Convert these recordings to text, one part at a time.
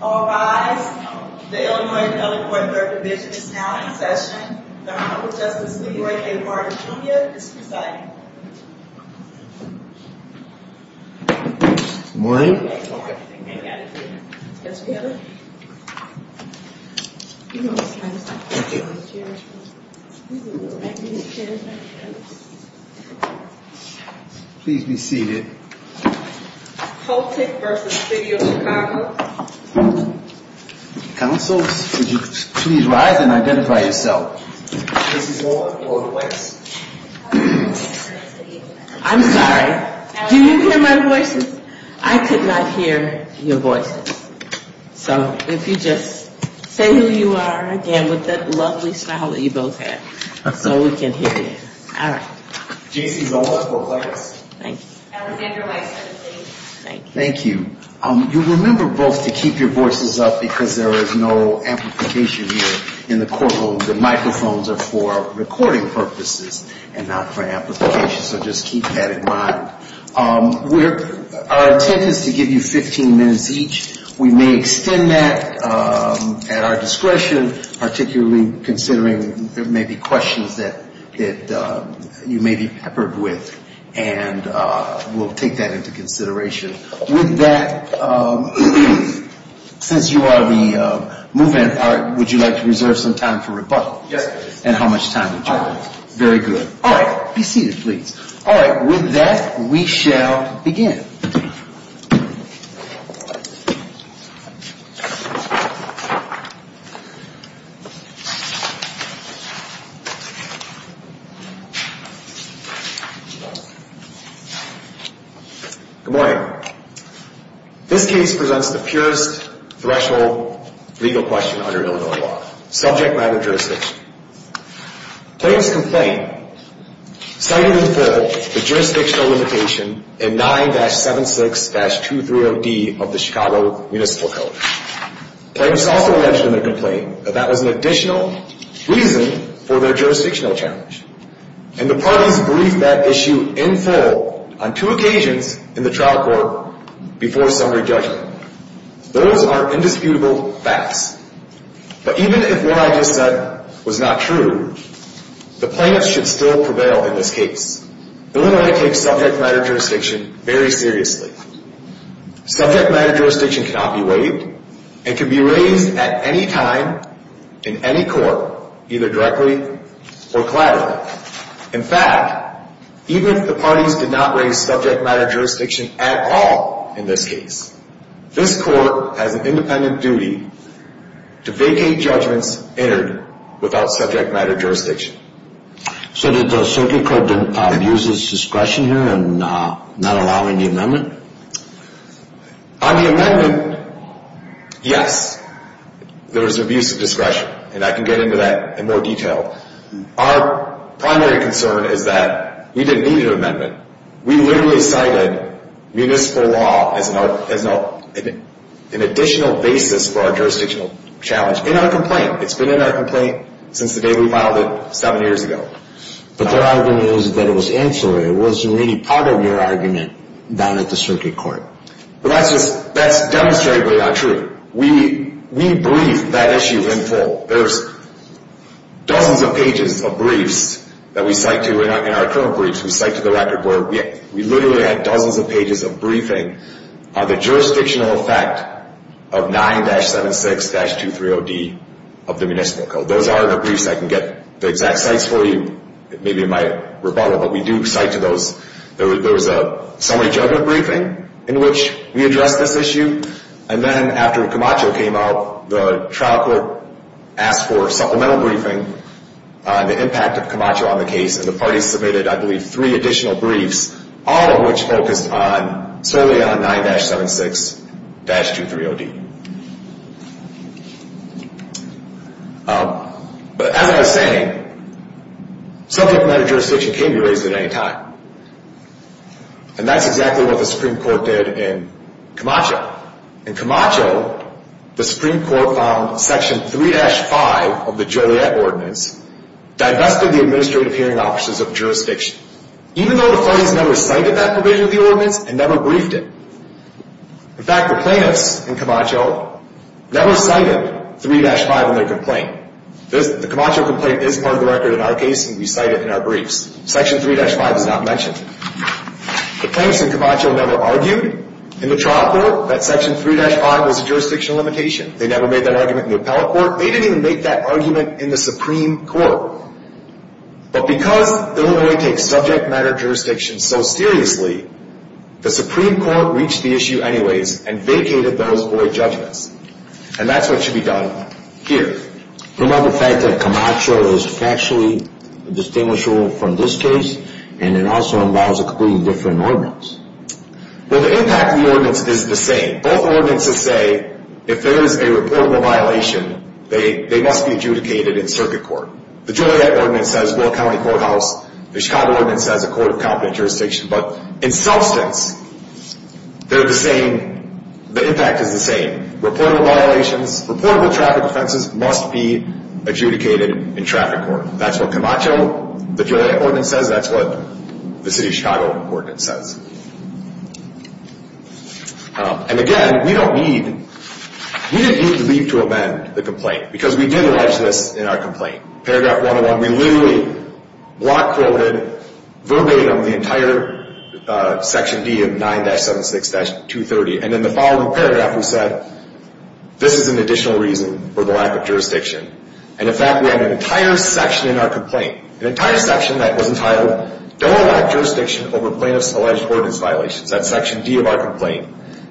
All rise. The Illinois Telecoil Third Division is now in session. The Honorable Justice LeRoy A. Martin, Jr. is presiding. Good morning. Please be seated. Poltek v. City of Chicago Councils, would you please rise and identify yourself. J.C. Zola for the whites. I'm sorry. Do you hear my voices? I could not hear your voices. So, if you just say who you are again with that lovely smile that you both have, so we can hear you. All right. J.C. Zola for whites. Thank you. Alexander Weiss for the blues. Thank you. You remember both to keep your voices up because there is no amplification here in the courtroom. The microphones are for recording purposes and not for amplification, so just keep that in mind. Our intent is to give you 15 minutes each. We may extend that at our discretion, particularly considering there may be questions that you may be peppered with and we'll take that into consideration. With that, since you are the movement, would you like to reserve some time for rebuttals? Yes, please. And how much time would you like? All right. Very good. All right. Be seated, please. All right. With that, we shall begin. Good morning. This case presents the purest threshold legal question under Illinois law, subject matter jurisdiction. Plaintiff's complaint cited the jurisdictional limitation in 9-76-230D of the Chicago Municipal Code. Plaintiff's also mentioned in the complaint that that was an additional reason for their jurisdictional challenge. And the parties briefed that issue in full on two occasions in the trial court before summary judgment. Those are indisputable facts. But even if what I just said was not true, the plaintiffs should still prevail in this case. Illinois takes subject matter jurisdiction very seriously. Subject matter jurisdiction cannot be waived and can be raised at any time in any court, either directly or collateral. In fact, even if the parties did not raise subject matter jurisdiction at all in this case, this court has an independent duty to vacate judgments entered without subject matter jurisdiction. So did the circuit court abuse its discretion here in not allowing the amendment? On the amendment, yes, there was abuse of discretion. And I can get into that in more detail. Our primary concern is that we didn't need an amendment. We literally cited municipal law as an additional basis for our jurisdictional challenge in our complaint. It's been in our complaint since the day we filed it seven years ago. But their argument is that it was ancillary. It wasn't really part of your argument down at the circuit court. That's demonstrably not true. We briefed that issue in full. There's dozens of pages of briefs that we cite to in our current briefs. We cite to the record where we literally had dozens of pages of briefing. The jurisdictional effect of 9-76-230D of the municipal code. Those are the briefs. I can get the exact cites for you, maybe in my rebuttal. But we do cite to those. There was a summary judgment briefing in which we addressed this issue. And then after Camacho came out, the trial court asked for a supplemental briefing on the impact of Camacho on the case. And the parties submitted, I believe, three additional briefs, all of which focused solely on 9-76-230D. But as I was saying, subject matter jurisdiction can be raised at any time. And that's exactly what the Supreme Court did in Camacho. In Camacho, the Supreme Court found Section 3-5 of the Joliet Ordinance divested the administrative hearing offices of jurisdiction. Even though the parties never cited that provision of the ordinance and never briefed it. In fact, the plaintiffs in Camacho never cited 3-5 in their complaint. The Camacho complaint is part of the record in our case, and we cite it in our briefs. Section 3-5 is not mentioned. The plaintiffs in Camacho never argued in the trial court that Section 3-5 was a jurisdiction limitation. They never made that argument in the appellate court. They didn't even make that argument in the Supreme Court. But because Illinois takes subject matter jurisdiction so seriously, the Supreme Court reached the issue anyways and vacated those void judgments. And that's what should be done here. But what about the fact that Camacho is factually distinguishable from this case, and it also involves a completely different ordinance? Well, the impact of the ordinance is the same. Both ordinances say if there is a reportable violation, they must be adjudicated in circuit court. The Joliet Ordinance says Will County Courthouse. The Chicago Ordinance says a court of competent jurisdiction. But in substance, they're the same. The impact is the same. Reportable violations, reportable traffic offenses must be adjudicated in traffic court. That's what Camacho, the Joliet Ordinance says. That's what the City of Chicago Ordinance says. And again, we don't need, we didn't need to leave to amend the complaint because we did allege this in our complaint. Paragraph 101, we literally block quoted verbatim the entire Section D of 9-76-230. And in the following paragraph, we said, this is an additional reason for the lack of jurisdiction. And in fact, we have an entire section in our complaint, an entire section that was entitled, don't allow jurisdiction over plaintiff's alleged ordinance violations. That's Section D of our complaint.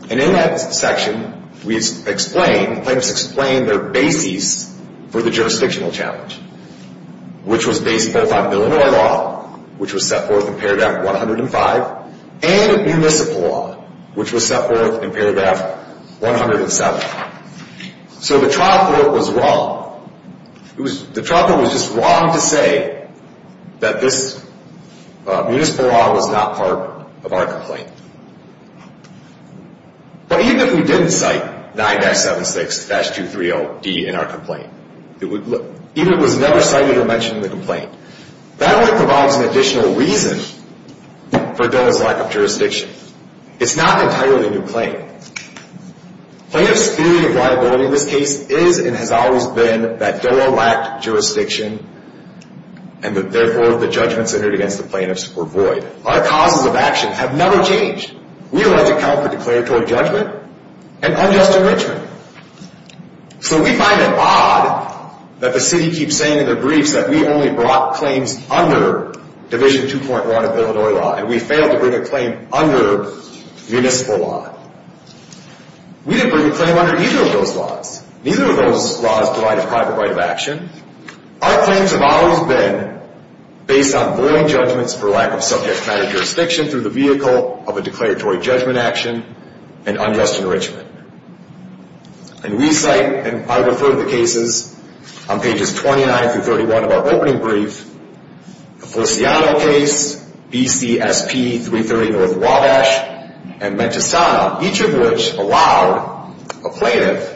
And in that section, we explain, plaintiffs explain their basis for the jurisdictional challenge, which was based both on Illinois law, which was set forth in paragraph 105, and municipal law, which was set forth in paragraph 107. So the trial court was wrong. The trial court was just wrong to say that this municipal law was not part of our complaint. But even if we didn't cite 9-76-230-D in our complaint, even if it was never cited or mentioned in the complaint, that only provides an additional reason for DOA's lack of jurisdiction. It's not an entirely new claim. Plaintiff's theory of liability in this case is and has always been that DOA lacked jurisdiction and that therefore the judgments entered against the plaintiffs were void. Our causes of action have never changed. We allege account for declaratory judgment and unjust enrichment. So we find it odd that the city keeps saying in their briefs that we only brought claims under Division 2.1 of Illinois law and we failed to bring a claim under municipal law. We didn't bring a claim under either of those laws. Neither of those laws provide a private right of action. Our claims have always been based on void judgments for lack of subject matter jurisdiction through the vehicle of a declaratory judgment action and unjust enrichment. And we cite, and I refer to the cases on pages 29-31 of our opening brief, the Flaciano case, BCSP-330-North Wabash, and Mentastana, each of which allowed a plaintiff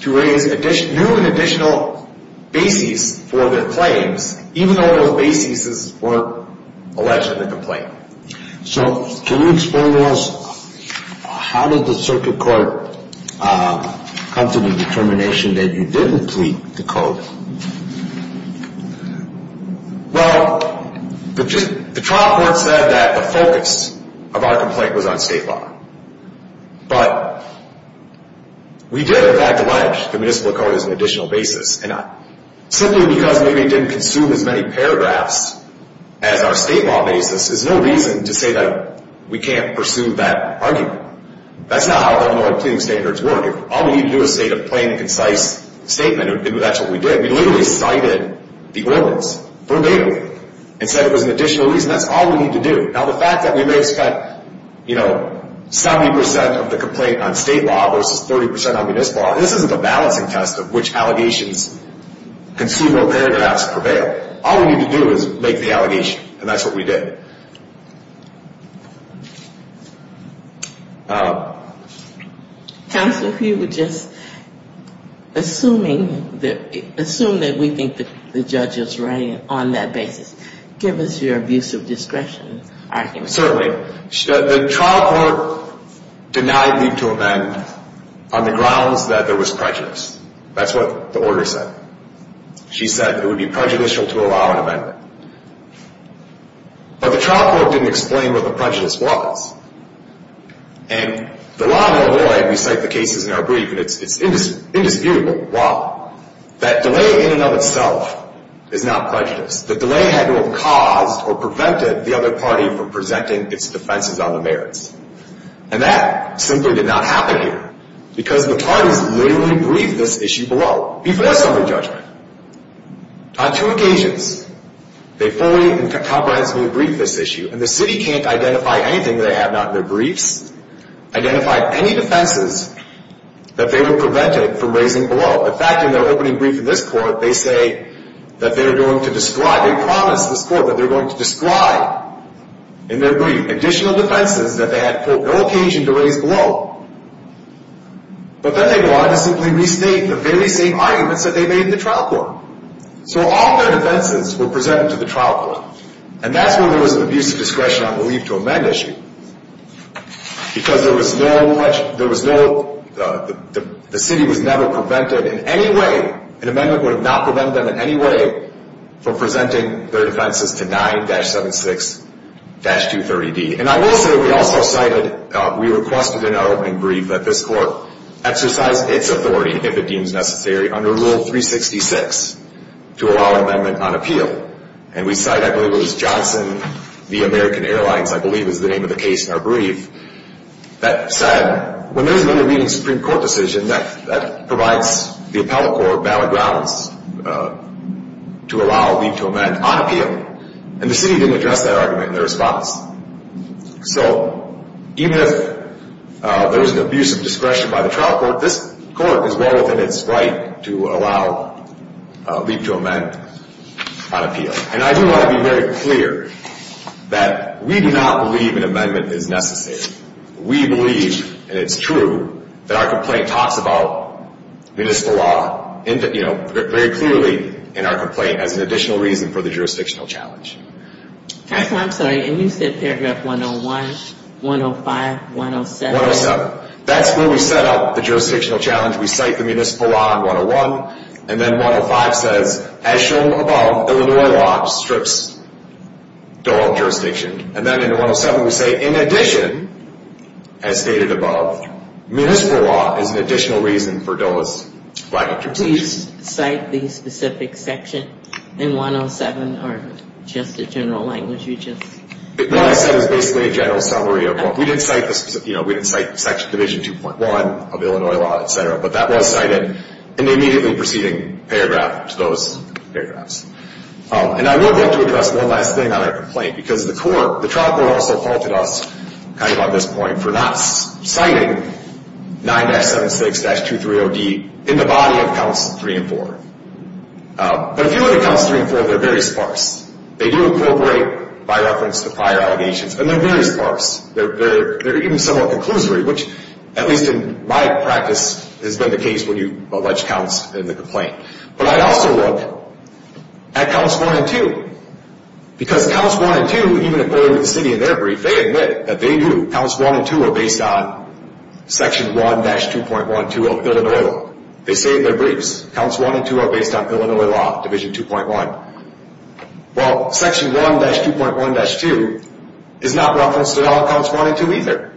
to raise new and additional bases for their claims, even though those bases weren't alleged in the complaint. So can you explain to us how did the circuit court come to the determination that you didn't complete the code? Well, the trial court said that the focus of our complaint was on state law. But we did, in fact, allege the municipal code as an additional basis and simply because maybe it didn't consume as many paragraphs as our state law basis, there's no reason to say that we can't pursue that argument. That's not how Illinois plaining standards work. If all we need to do is say a plain, concise statement, that's what we did. We literally cited the ordinance verbatim and said it was an additional reason. That's all we need to do. Now, the fact that we raised 70% of the complaint on state law versus 30% on municipal law, this isn't a balancing test of which allegations consume more paragraphs or prevail. All we need to do is make the allegation, and that's what we did. Counsel, if you would just assume that we think the judge is right on that basis. Give us your abuse of discretion argument. Certainly. The trial court denied me to amend on the grounds that there was prejudice. That's what the order said. She said it would be prejudicial to allow an amendment. But the trial court didn't explain what the prejudice was. And the law in Illinois, and we cite the cases in our brief, it's indisputable why. That delay in and of itself is not prejudice. The delay had to have caused or prevented the other party from presenting its defenses on the merits. And that simply did not happen here because the parties literally briefed this issue below, before summary judgment. On two occasions, they fully and comprehensively briefed this issue, and the city can't identify anything that they have not in their briefs, identify any defenses that they would prevent it from raising below. In fact, in their opening brief in this court, they say that they're going to describe, they promised this court that they're going to describe in their brief additional defenses that they had, quote, no occasion to raise below. But then they wanted to simply restate the very same arguments that they made in the trial court. So all their defenses were presented to the trial court. And that's where there was an abuse of discretion on the leave to amend issue because there was no much, there was no, the city was never prevented in any way, an amendment would have not prevented them in any way from presenting their defenses to 9-76-230D. And I will say we also cited, we requested in our opening brief that this court exercise its authority, if it deems necessary, under Rule 366 to allow an amendment on appeal. And we cite, I believe it was Johnson v. American Airlines, I believe is the name of the case in our brief, that said when there is an intervening Supreme Court decision, that provides the appellate court valid grounds to allow leave to amend on appeal. And the city didn't address that argument in their response. So even if there was an abuse of discretion by the trial court, this court is well within its right to allow leave to amend on appeal. And I do want to be very clear that we do not believe an amendment is necessary. We believe, and it's true, that our complaint talks about municipal law, you know, very clearly in our complaint as an additional reason for the jurisdictional challenge. I'm sorry, and you said paragraph 101, 105, 107. 107. That's where we set up the jurisdictional challenge. We cite the municipal law in 101, and then 105 says, as shown above, Illinois law strips Dole jurisdiction. And then in 107 we say, in addition, as stated above, municipal law is an additional reason for Dole's lack of jurisdiction. Did you cite the specific section in 107, or just the general language? What I said is basically a general summary of what we did cite. We didn't cite section division 2.1 of Illinois law, et cetera, but that was cited in the immediately preceding paragraph to those paragraphs. And I would like to address one last thing on our complaint, because the trial court also faulted us kind of on this point for not citing 9-76-230D in the body of counts 3 and 4. But if you look at counts 3 and 4, they're very sparse. They do incorporate, by reference to prior allegations, and they're very sparse. They're even somewhat conclusory, which, at least in my practice, has been the case when you allege counts in the complaint. But I'd also look at counts 1 and 2, because counts 1 and 2, even according to the city in their brief, if they admit that they do, counts 1 and 2 are based on section 1-2.12 of Illinois law. They say in their briefs, counts 1 and 2 are based on Illinois law, division 2.1. Well, section 1-2.1-2 is not referenced in all counts 1 and 2 either.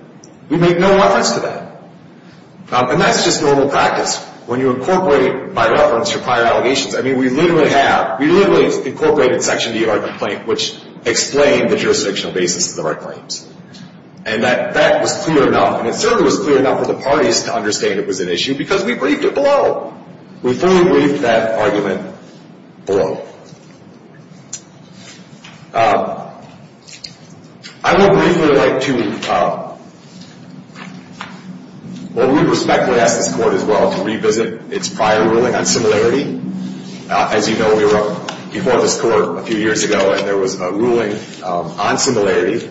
We make no reference to that. And that's just normal practice when you incorporate, by reference, your prior allegations. I mean, we literally have, we literally incorporated section D of our complaint, which explained the jurisdictional basis of the right claims. And that was clear enough, and it certainly was clear enough for the parties to understand it was an issue, because we briefed it below. We fully briefed that argument below. I would briefly like to, well, we respectfully ask this court as well to revisit its prior ruling on similarity. As you know, we were up before this court a few years ago, and there was a ruling on similarity.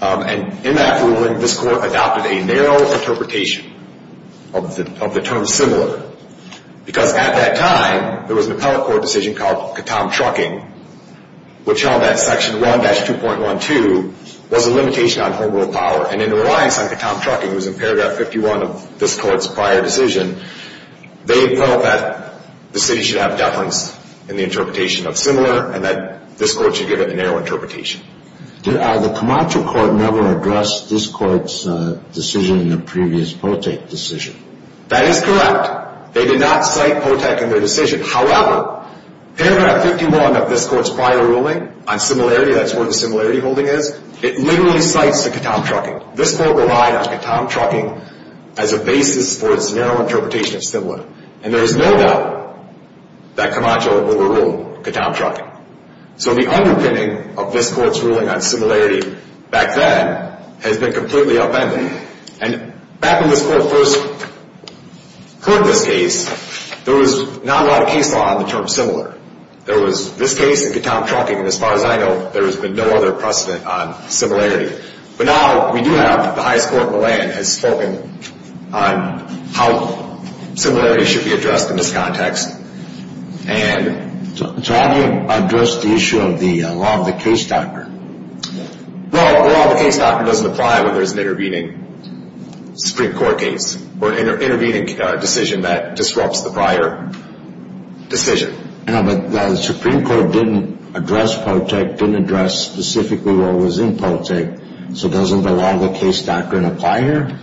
And in that ruling, this court adopted a narrow interpretation of the term similar, because at that time, there was an appellate court decision called Katam Trucking, which held that section 1-2.1-2 was a limitation on home rule power. And in the reliance on Katam Trucking, it was in paragraph 51 of this court's prior decision, they felt that the city should have deference in the interpretation of similar and that this court should give it a narrow interpretation. The Camacho court never addressed this court's decision in the previous Politech decision. That is correct. They did not cite Politech in their decision. However, paragraph 51 of this court's prior ruling on similarity, that's where the similarity holding is, it literally cites the Katam Trucking. This court relied on Katam Trucking as a basis for its narrow interpretation of similar. And there is no doubt that Camacho overruled Katam Trucking. So the underpinning of this court's ruling on similarity back then has been completely upended. And back when this court first heard this case, there was not a lot of case law on the term similar. There was this case and Katam Trucking, and as far as I know, there has been no other precedent on similarity. But now we do have the highest court in the land has spoken on how similarity should be addressed in this context. So how do you address the issue of the law of the case doctor? Well, the law of the case doctor doesn't apply when there is an intervening Supreme Court case or an intervening decision that disrupts the prior decision. But the Supreme Court didn't address Politech, didn't address specifically what was in Politech, so doesn't the law of the case doctor apply here?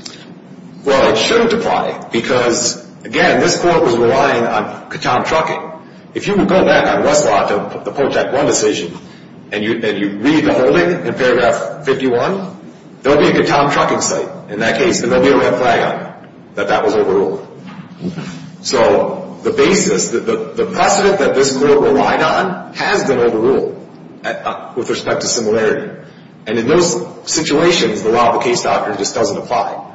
Well, it shouldn't apply because, again, this court was relying on Katam Trucking. If you would go back on Westlaw to the Politech 1 decision and you read the holding in paragraph 51, there would be a Katam Trucking site in that case, and there would be a red flag on it that that was overruled. So the basis, the precedent that this court relied on has been overruled with respect to similarity. And in those situations, the law of the case doctor just doesn't apply.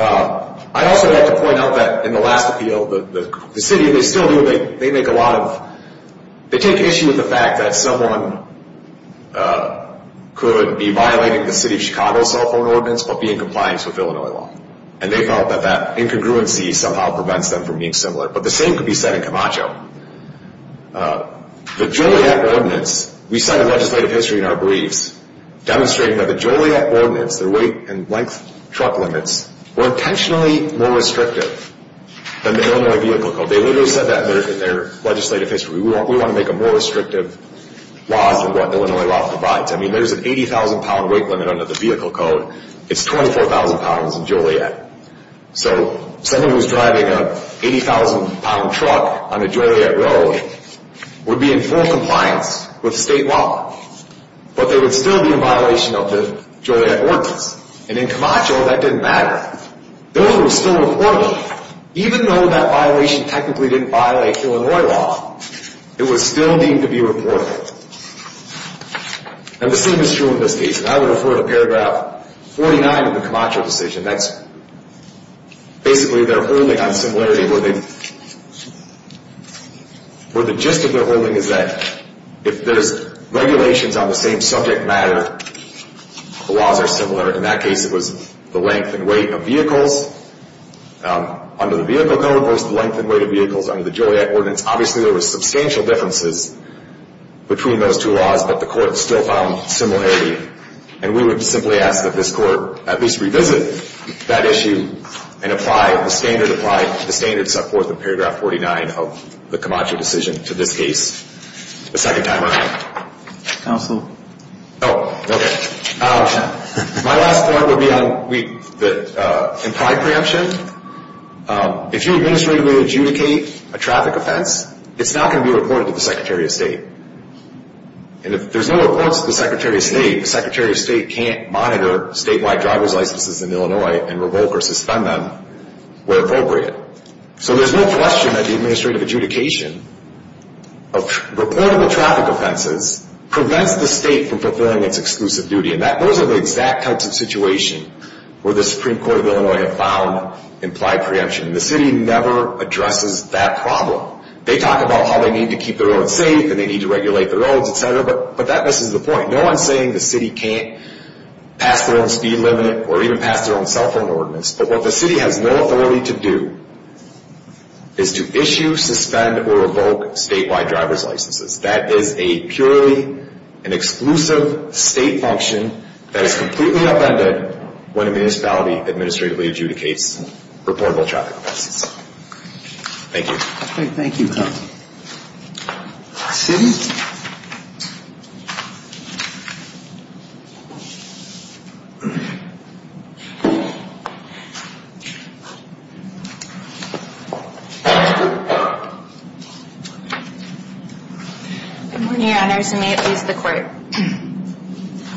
I'd also like to point out that in the last appeal, the city, they still do, they make a lot of, they take issue with the fact that someone could be violating the city of Chicago cell phone ordinance but be in compliance with Illinois law. And they felt that that incongruency somehow prevents them from being similar. But the same could be said in Camacho. The Joliet ordinance, we cite a legislative history in our briefs demonstrating that the Joliet ordinance, their weight and length truck limits, were intentionally more restrictive than the Illinois vehicle code. They literally said that in their legislative history. We want to make them more restrictive laws than what Illinois law provides. I mean, there's an 80,000-pound weight limit under the vehicle code. It's 24,000 pounds in Joliet. So someone who's driving an 80,000-pound truck on the Joliet road would be in full compliance with state law. But they would still be in violation of the Joliet ordinance. And in Camacho, that didn't matter. Those were still reported. Even though that violation technically didn't violate Illinois law, it was still deemed to be reported. And the same is true in this case. And I would refer to paragraph 49 of the Camacho decision. That's basically their holding on similarity where the gist of their holding is that if there's regulations on the same subject matter, the laws are similar. In that case, it was the length and weight of vehicles under the vehicle code versus the length and weight of vehicles under the Joliet ordinance. Obviously, there were substantial differences between those two laws, but the court still found similarity. And we would simply ask that this court at least revisit that issue and apply the standard support in paragraph 49 of the Camacho decision to this case a second time around. Counsel? Oh, okay. My last point would be on the implied preemption. If you administratively adjudicate a traffic offense, it's not going to be reported to the Secretary of State. And if there's no reports to the Secretary of State, the Secretary of State can't monitor statewide driver's licenses in Illinois and revoke or suspend them where appropriate. So there's no question that the administrative adjudication of reportable traffic offenses prevents the state from fulfilling its exclusive duty. And those are the exact types of situations where the Supreme Court of Illinois have found implied preemption. The city never addresses that problem. They talk about how they need to keep their roads safe and they need to regulate their roads, et cetera, but that misses the point. No one's saying the city can't pass their own speed limit or even pass their own cell phone ordinance. But what the city has no authority to do is to issue, suspend, or revoke statewide driver's licenses. That is a purely and exclusive state function that is completely upended when a municipality administratively adjudicates reportable traffic offenses. Thank you. Okay, thank you. City? Good morning, Your Honors, and may it please the Court.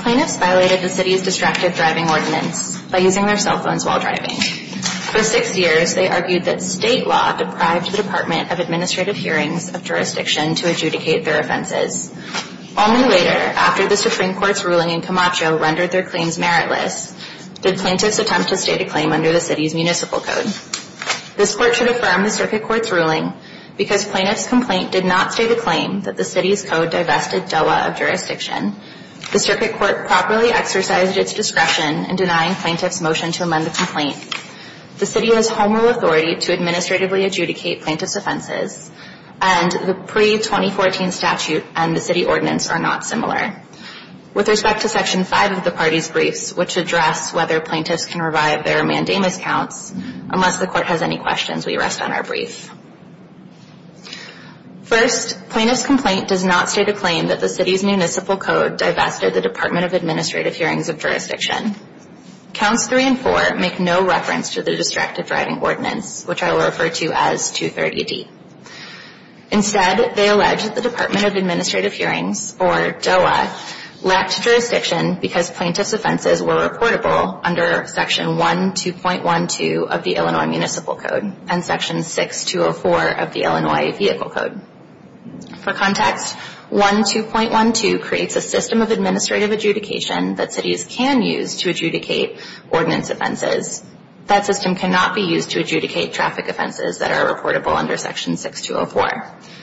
Plaintiffs violated the city's distracted driving ordinance by using their cell phones while driving. For six years, they argued that state law deprived the Department of Administrative Hearings of jurisdiction to adjudicate their offenses. Only later, after the Supreme Court's ruling in Camacho rendered their claims meritless, did plaintiffs attempt to state a claim under the city's municipal code. This Court should affirm the circuit court's ruling because plaintiff's complaint did not state a claim that the city's code divested DOA of jurisdiction. The circuit court properly exercised its discretion in denying plaintiff's motion to amend the complaint. The city has home rule authority to administratively adjudicate plaintiff's offenses, and the pre-2014 statute and the city ordinance are not similar. With respect to Section 5 of the party's briefs, which address whether plaintiffs can revive their mandamus counts, unless the Court has any questions, we rest on our brief. First, plaintiff's complaint does not state a claim that the city's municipal code divested the Department of Administrative Hearings of jurisdiction. Counts 3 and 4 make no reference to the Distracted Driving Ordinance, which I will refer to as 230D. Instead, they allege that the Department of Administrative Hearings, or DOA, lacked jurisdiction because plaintiff's offenses were reportable under Section 12.12 of the Illinois Municipal Code and Section 6204 of the Illinois Vehicle Code. For context, 12.12 creates a system of administrative adjudication that cities can use to adjudicate ordinance offenses. That system cannot be used to adjudicate traffic offenses that are reportable under Section 6204.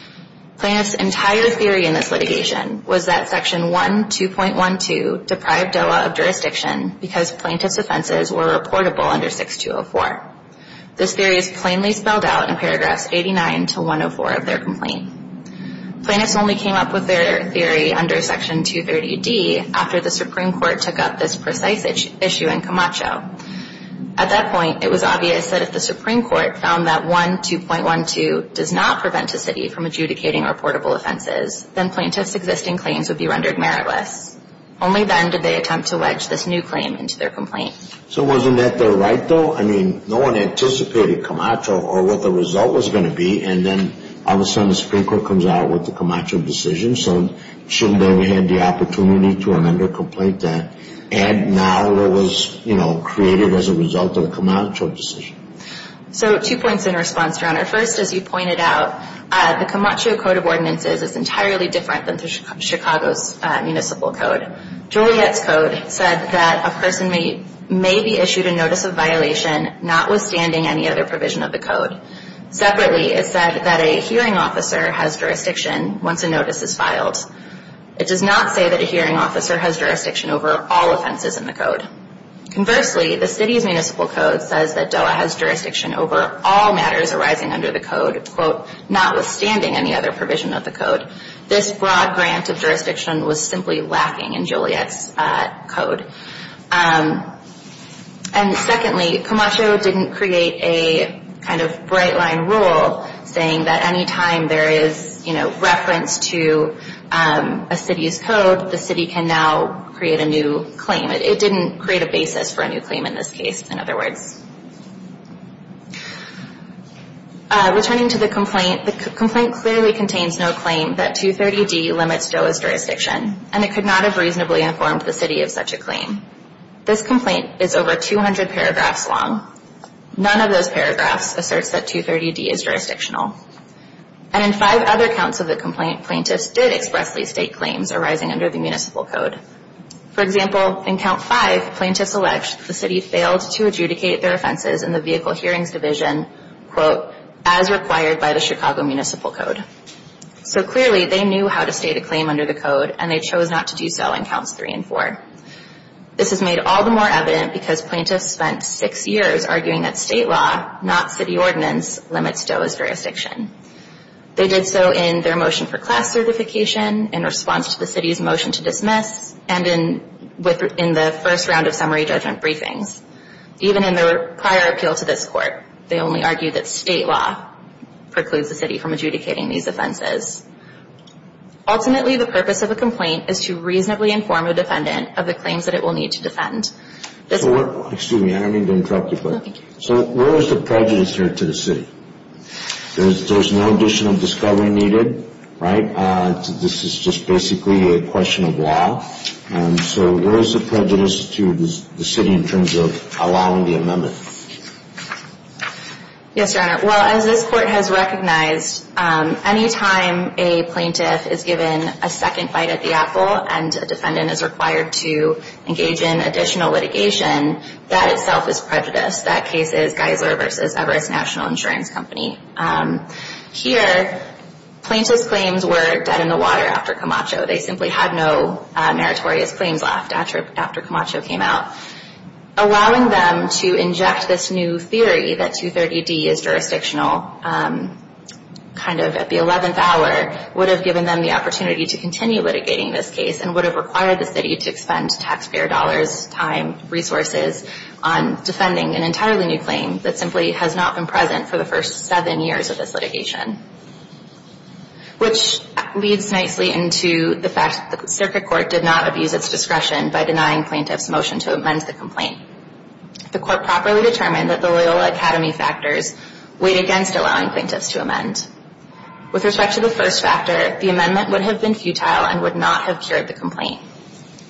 Plaintiff's entire theory in this litigation was that Section 12.12 deprived DOA of jurisdiction because plaintiff's offenses were reportable under 6204. This theory is plainly spelled out in paragraphs 89 to 104 of their complaint. Plaintiffs only came up with their theory under Section 230D after the Supreme Court took up this precise issue in Camacho. At that point, it was obvious that if the Supreme Court found that 12.12 does not prevent a city from adjudicating reportable offenses, then plaintiff's existing claims would be rendered meritless. Only then did they attempt to wedge this new claim into their complaint. So wasn't that their right though? I mean, no one anticipated Camacho or what the result was going to be and then all of a sudden the Supreme Court comes out with the Camacho decision. So shouldn't they have had the opportunity to amend their complaint then and now what was created as a result of the Camacho decision? So two points in response, Your Honor. First, as you pointed out, the Camacho Code of Ordinances is entirely different than Chicago's Municipal Code. Juliet's Code said that a person may be issued a notice of violation notwithstanding any other provision of the Code. Separately, it said that a hearing officer has jurisdiction once a notice is filed. It does not say that a hearing officer has jurisdiction over all offenses in the Code. Conversely, the City's Municipal Code says that DOA has jurisdiction over all matters arising under the Code, quote, notwithstanding any other provision of the Code. This broad grant of jurisdiction was simply lacking in Juliet's Code. And secondly, Camacho didn't create a kind of bright line rule saying that any time there is, you know, reference to a City's Code, the City can now create a new claim. It didn't create a basis for a new claim in this case, in other words. Returning to the complaint, the complaint clearly contains no claim that 230d limits DOA's jurisdiction, and it could not have reasonably informed the City of such a claim. This complaint is over 200 paragraphs long. None of those paragraphs asserts that 230d is jurisdictional. And in five other counts of the complaint, plaintiffs did expressly state claims arising under the Municipal Code. For example, in count five, plaintiffs alleged that the City failed to adjudicate their offenses in the Vehicle Hearings Division, quote, as required by the Chicago Municipal Code. So clearly, they knew how to state a claim under the Code, and they chose not to do so in counts three and four. This is made all the more evident because plaintiffs spent six years arguing that state law, not City ordinance, limits DOA's jurisdiction. They did so in their motion for class certification, in response to the City's motion to dismiss, and in the first round of summary judgment briefings. Even in their prior appeal to this Court, they only argued that state law precludes the City from adjudicating these offenses. Ultimately, the purpose of a complaint is to reasonably inform a defendant of the claims that it will need to defend. Excuse me, I don't mean to interrupt you, but where is the prejudice here to the City? There's no additional discovery needed, right? This is just basically a question of law. So where is the prejudice to the City in terms of allowing the amendment? Yes, Your Honor. Well, as this Court has recognized, any time a plaintiff is given a second bite at the apple and a defendant is required to engage in additional litigation, that itself is prejudice. That case is Geisler v. Everest National Insurance Company. Here, plaintiff's claims were dead in the water after Camacho. They simply had no meritorious claims left after Camacho came out. Allowing them to inject this new theory that 230D is jurisdictional, kind of at the 11th hour, would have given them the opportunity to continue litigating this case and would have required the City to expend taxpayer dollars, time, resources, on defending an entirely new claim that simply has not been present for the first seven years of this litigation, which leads nicely into the fact that the Circuit Court did not abuse its discretion by denying plaintiff's motion to amend the complaint. The Court properly determined that the Loyola Academy factors weighed against allowing plaintiffs to amend. With respect to the first factor, the amendment would have been futile and would not have cured the complaint.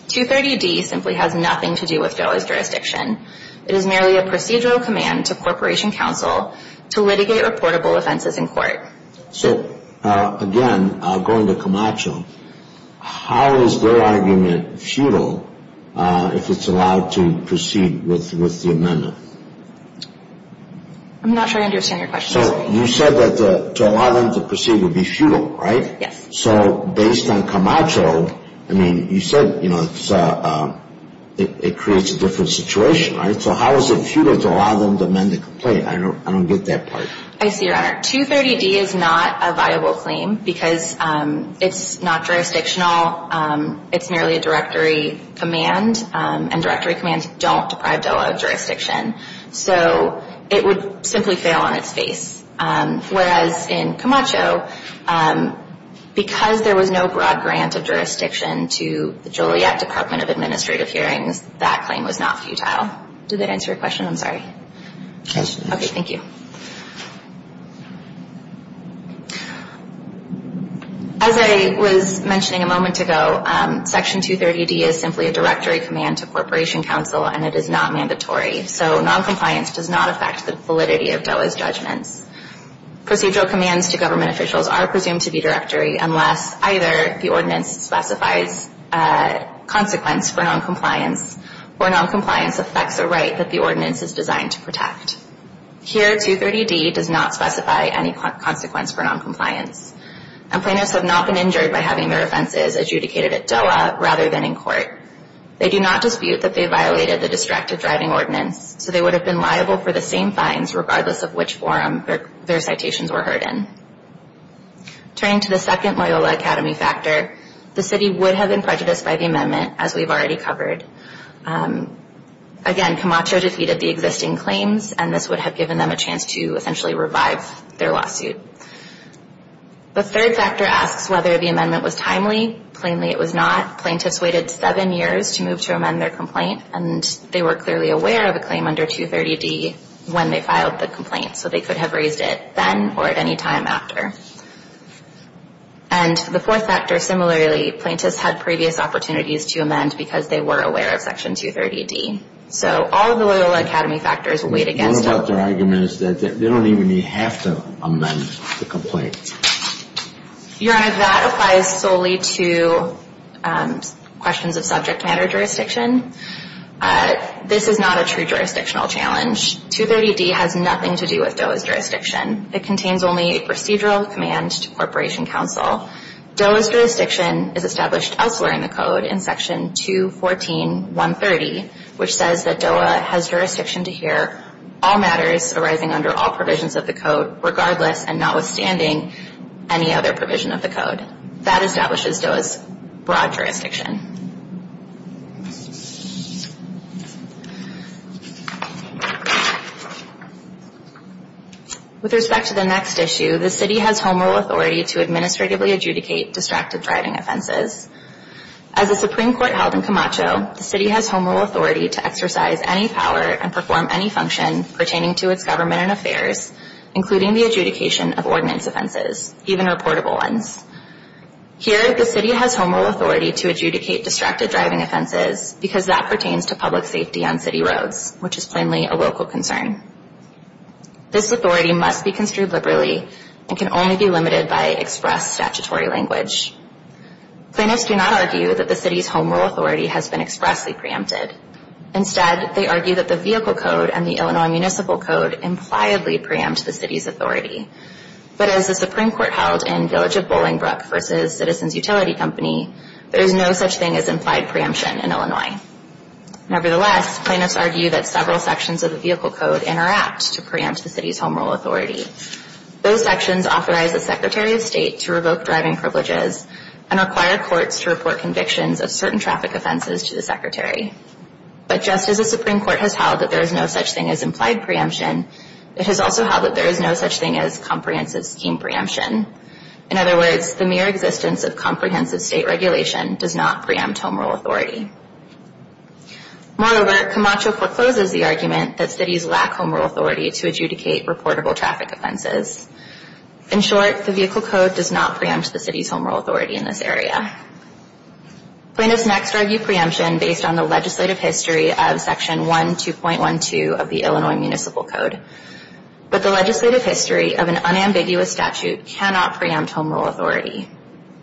230D simply has nothing to do with Geisler's jurisdiction. It is merely a procedural command to Corporation Counsel to litigate reportable offenses in court. So, again, going to Camacho, how is their argument futile if it's allowed to proceed with the amendment? I'm not sure I understand your question. So, you said that to allow them to proceed would be futile, right? Yes. So, based on Camacho, you said it creates a different situation, right? So how is it futile to allow them to amend the complaint? I don't get that part. I see, Your Honor. 230D is not a viable claim because it's not jurisdictional. It's merely a directory command, and directory commands don't deprive Delaware of jurisdiction. So it would simply fail on its face. Whereas in Camacho, because there was no broad grant of jurisdiction to the Joliet Department of Administrative Hearings, that claim was not futile. Did that answer your question? I'm sorry. Okay, thank you. As I was mentioning a moment ago, Section 230D is simply a directory command to Corporation Counsel, and it is not mandatory. So noncompliance does not affect the validity of DOA's judgments. Procedural commands to government officials are presumed to be directory unless either the ordinance specifies consequence for noncompliance or noncompliance affects a right that the ordinance is designed to protect. Here, 230D does not specify any consequence for noncompliance, and plaintiffs have not been injured by having their offenses adjudicated at DOA rather than in court. They do not dispute that they violated the Distracted Driving Ordinance, so they would have been liable for the same fines regardless of which forum their citations were heard in. Turning to the second Loyola Academy factor, the city would have been prejudiced by the amendment, as we've already covered. Again, Camacho defeated the existing claims, and this would have given them a chance to essentially revive their lawsuit. The third factor asks whether the amendment was timely. Plainly, it was not. Plaintiffs waited seven years to move to amend their complaint, and they were clearly aware of a claim under 230D when they filed the complaint, so they could have raised it then or any time after. And the fourth factor, similarly, plaintiffs had previous opportunities to amend because they were aware of Section 230D. So all of the Loyola Academy factors weighed against them. What about their argument is that they don't even have to amend the complaint? Your Honor, that applies solely to questions of subject matter jurisdiction. This is not a true jurisdictional challenge. 230D has nothing to do with DOA's jurisdiction. It contains only a procedural command to Corporation Counsel. DOA's jurisdiction is established elsewhere in the Code in Section 214.130, which says that DOA has jurisdiction to hear all matters arising under all provisions of the Code regardless and notwithstanding any other provision of the Code. That establishes DOA's broad jurisdiction. With respect to the next issue, the City has home rule authority to administratively adjudicate distracted driving offenses. As a Supreme Court held in Camacho, the City has home rule authority to exercise any power and perform any function pertaining to its government and affairs, including the adjudication of ordinance offenses, even reportable ones. Here, the City has home rule authority to adjudicate distracted driving offenses because that pertains to public safety on City roads, which is plainly a local concern. This authority must be construed liberally and can only be limited by express statutory language. Plaintiffs do not argue that the City's home rule authority has been expressly preempted. Instead, they argue that the Vehicle Code and the Illinois Municipal Code impliedly preempt the City's authority. But as the Supreme Court held in Village of Bolingbrook v. Citizens Utility Company, there is no such thing as implied preemption in Illinois. Nevertheless, plaintiffs argue that several sections of the Vehicle Code interact to preempt the City's home rule authority. Those sections authorize the Secretary of State to revoke driving privileges and require courts to report convictions of certain traffic offenses to the Secretary. But just as the Supreme Court has held that there is no such thing as implied preemption, it has also held that there is no such thing as comprehensive scheme preemption. In other words, the mere existence of comprehensive state regulation does not preempt home rule authority. Moreover, Camacho forecloses the argument that Cities lack home rule authority to adjudicate reportable traffic offenses. In short, the Vehicle Code does not preempt the City's home rule authority in this area. Plaintiffs next argue preemption based on the legislative history of Section 12.12 of the Illinois Municipal Code. But the legislative history of an unambiguous statute cannot preempt home rule authority.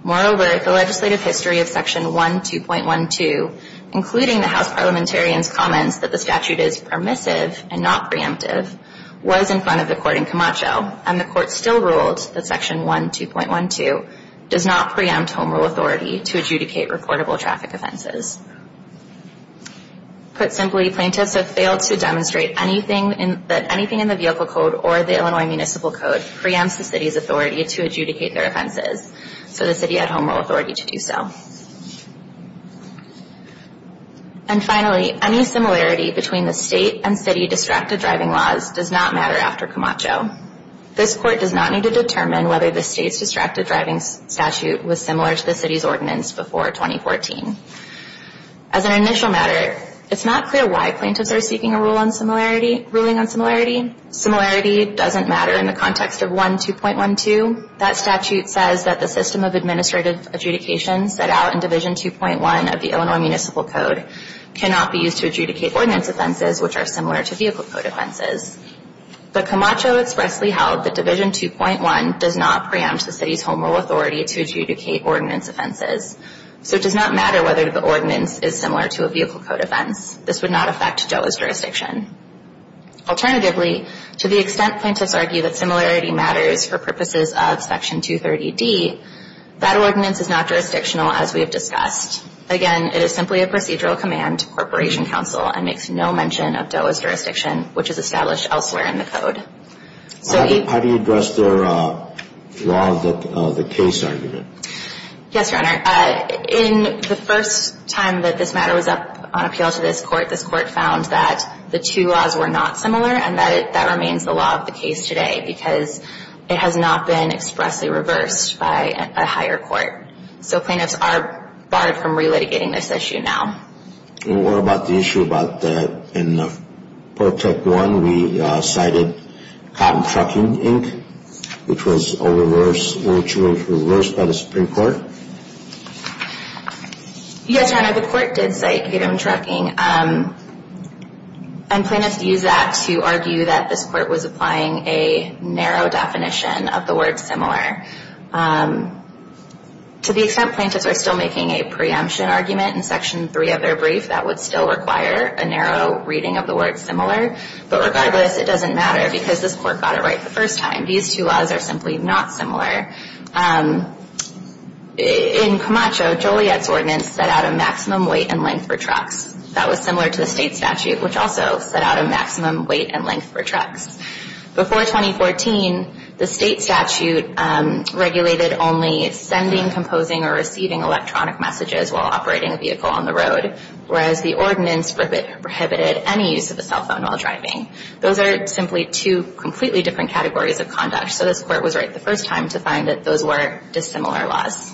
Moreover, the legislative history of Section 12.12, including the House Parliamentarian's comments that the statute is permissive and not preemptive, was in front of the Court in Camacho, and the Court still ruled that Section 12.12 does not preempt home rule authority to adjudicate reportable traffic offenses. Put simply, plaintiffs have failed to demonstrate that anything in the Vehicle Code or the Illinois Municipal Code preempts the City's authority to adjudicate their offenses, so the City had home rule authority to do so. And finally, any similarity between the State and City distracted driving laws does not matter after Camacho. This Court does not need to determine whether the State's distracted driving statute was similar to the City's ordinance before 2014. As an initial matter, it's not clear why plaintiffs are seeking a ruling on similarity. Similarity doesn't matter in the context of 12.12. That statute says that the system of administrative adjudication set out in Division 2.1 of the Illinois Municipal Code cannot be used to adjudicate ordinance offenses which are similar to Vehicle Code offenses. But Camacho expressly held that Division 2.1 does not preempt the City's home rule authority to adjudicate ordinance offenses. So it does not matter whether the ordinance is similar to a Vehicle Code offense. This would not affect DOA's jurisdiction. Alternatively, to the extent plaintiffs argue that similarity matters for purposes of Section 230D, that ordinance is not jurisdictional as we have discussed. Again, it is simply a procedural command to Corporation Counsel and makes no mention of DOA's jurisdiction, which is established elsewhere in the Code. How do you address their law of the case argument? Yes, Your Honor. In the first time that this matter was up on appeal to this Court, this Court found that the two laws were not similar and that remains the law of the case today because it has not been expressly reversed by a higher court. So plaintiffs are barred from re-litigating this issue now. And what about the issue about in Part Tech 1 we cited Cotton Trucking, Inc., which was reversed by the Supreme Court? Yes, Your Honor, the Court did cite Cotton Trucking. And plaintiffs used that to argue that this Court was applying a narrow definition of the word similar. To the extent plaintiffs are still making a preemption argument in Section 3 of their brief, that would still require a narrow reading of the word similar. But regardless, it doesn't matter because this Court got it right the first time. These two laws are simply not similar. In Camacho, Joliet's ordinance set out a maximum weight and length for trucks. That was similar to the state statute, which also set out a maximum weight and length for trucks. Before 2014, the state statute regulated only sending, composing, or receiving electronic messages while operating a vehicle on the road, whereas the ordinance prohibited any use of a cell phone while driving. Those are simply two completely different categories of conduct, so this Court was right the first time to find that those were dissimilar laws.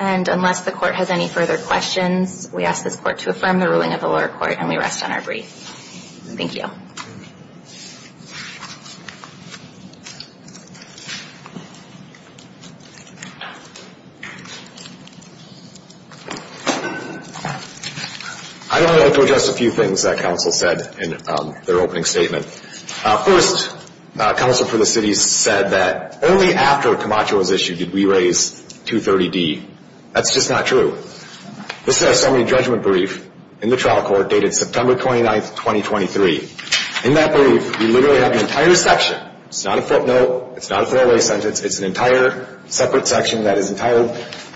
And unless the Court has any further questions, we ask this Court to affirm the ruling of the lower court, and we rest on our brief. Thank you. I'd like to address a few things that counsel said in their opening statement. First, counsel for the city said that only after Camacho was issued did we raise 230D. That's just not true. This is a summary judgment brief in the trial court dated September 29, 2023. In that brief, we literally have an entire section. It's not a footnote. It's not a throwaway sentence. It's an entire separate section that is entitled,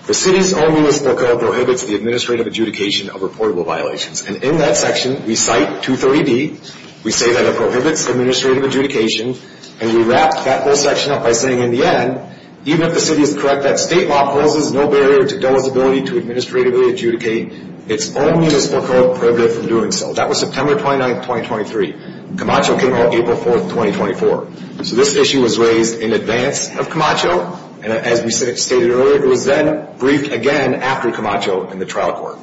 The city's own municipal code prohibits the administrative adjudication of reportable violations. And in that section, we cite 230D. We say that it prohibits administrative adjudication, and we wrap that whole section up by saying in the end, even if the city is correct that state law poses no barrier to DOE's ability to administratively adjudicate its own municipal code prohibited from doing so. That was September 29, 2023. Camacho came out April 4, 2024. So this issue was raised in advance of Camacho, and as we stated earlier, it was then briefed again after Camacho in the trial court.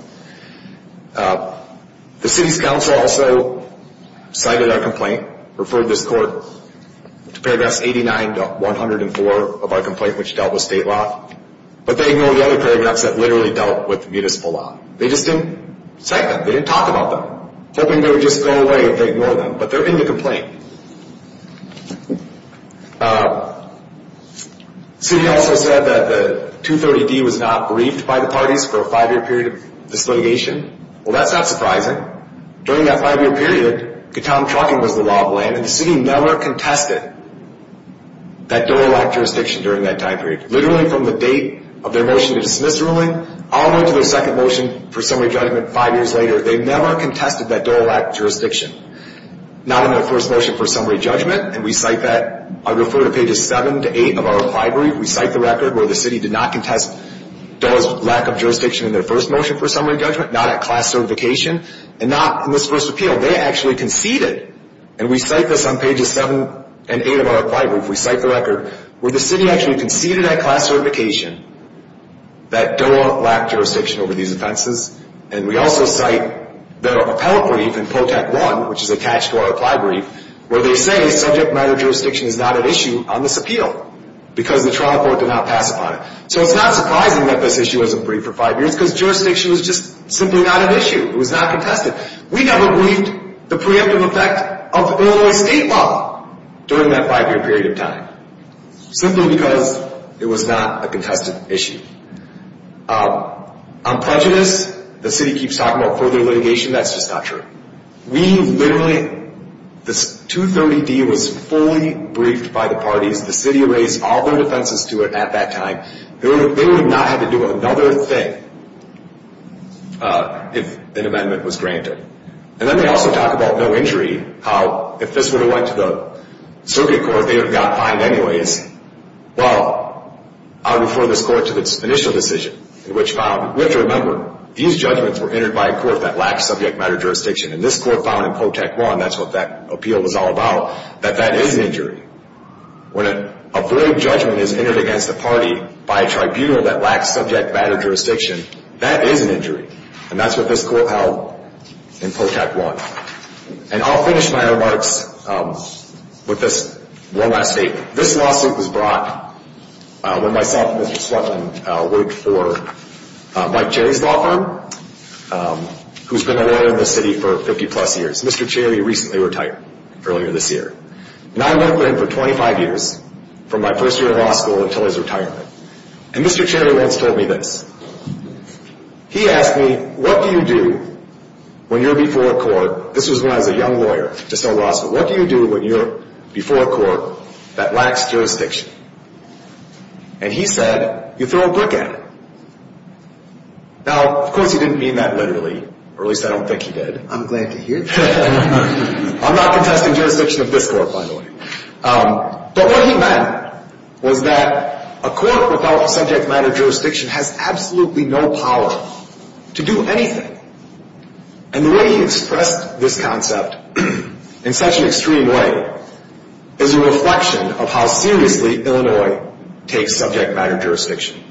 The city's council also cited our complaint, referred this court to paragraphs 89 to 104 of our complaint, which dealt with state law. But they ignored the other paragraphs that literally dealt with municipal law. They just didn't cite them. They didn't talk about them, hoping they would just go away if they ignored them. But they're in the complaint. The city also said that the 230D was not briefed by the parties for a five-year period of dislitigation. Well, that's not surprising. During that five-year period, Gautam Trucking was the law of the land, and the city never contested that DOE-elect jurisdiction during that time period. Literally from the date of their motion to dismiss the ruling, all the way to their second motion for summary judgment five years later, they never contested that DOE-elect jurisdiction. Not in their first motion for summary judgment, and we cite that. I refer to pages seven to eight of our reply brief. We cite the record where the city did not contest DOE's lack of jurisdiction in their first motion for summary judgment, not at class certification, and not in this first appeal. They actually conceded. And we cite this on pages seven and eight of our reply brief. We cite the record where the city actually conceded at class certification that DOE lacked jurisdiction over these offenses. And we also cite the appellate brief in Protect 1, which is attached to our reply brief, where they say subject matter jurisdiction is not an issue on this appeal because the trial court did not pass upon it. So it's not surprising that this issue wasn't briefed for five years because jurisdiction was just simply not an issue. It was not contested. We never briefed the preemptive effect of Illinois state law during that five-year period of time, simply because it was not a contested issue. On prejudice, the city keeps talking about further litigation. That's just not true. We literally, this 230D was fully briefed by the parties. The city raised all their defenses to it at that time. They would not have to do another thing if an amendment was granted. And then they also talk about no injury, how if this would have went to the circuit court, they would have gotten fined anyways. Well, I'll refer this court to its initial decision, which found, we have to remember, these judgments were entered by a court that lacks subject matter jurisdiction. And this court found in Protect 1, that's what that appeal was all about, that that is an injury. When a broad judgment is entered against a party by a tribunal that lacks subject matter jurisdiction, that is an injury. And that's what this court held in Protect 1. And I'll finish my remarks with this one last statement. This lawsuit was brought when myself and Mr. Swetland worked for Mike Cherry's law firm, who's been a lawyer in the city for 50-plus years. Mr. Cherry recently retired earlier this year. And I worked with him for 25 years, from my first year of law school until his retirement. And Mr. Cherry once told me this. He asked me, what do you do when you're before a court, this was when I was a young lawyer just out of law school, what do you do when you're before a court that lacks jurisdiction? And he said, you throw a brick at it. Now, of course, he didn't mean that literally, or at least I don't think he did. I'm glad to hear that. I'm not contesting jurisdiction of this court, by the way. But what he meant was that a court without subject matter jurisdiction has absolutely no power to do anything. And the way he expressed this concept in such an extreme way is a reflection of how seriously Illinois takes subject matter jurisdiction.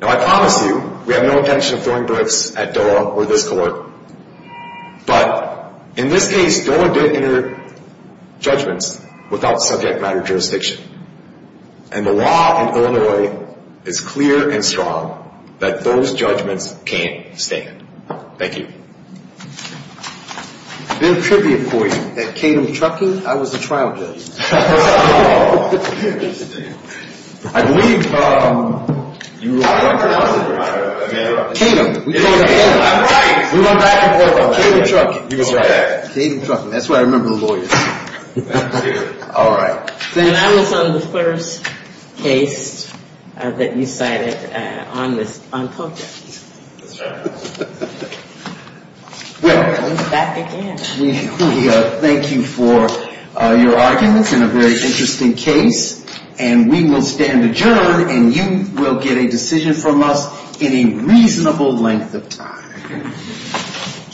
Now, I promise you, we have no intention of throwing bricks at DOA or this court. But in this case, DOA did enter judgments without subject matter jurisdiction. And the law in Illinois is clear and strong that those judgments can't stand. Thank you. A little tribute for you. At Canem Trucking, I was a trial judge. I believe you were a lawyer, wasn't you? Canem. I'm right. We went back and forth on Canem Trucking. That's right. Canem Trucking. That's where I remember the lawyers. All right. Then I was on the first case that you cited on POCAS. That's right. Well, we thank you for your arguments in a very interesting case. And we will stand adjourned. And you will get a decision from us in a reasonable length of time.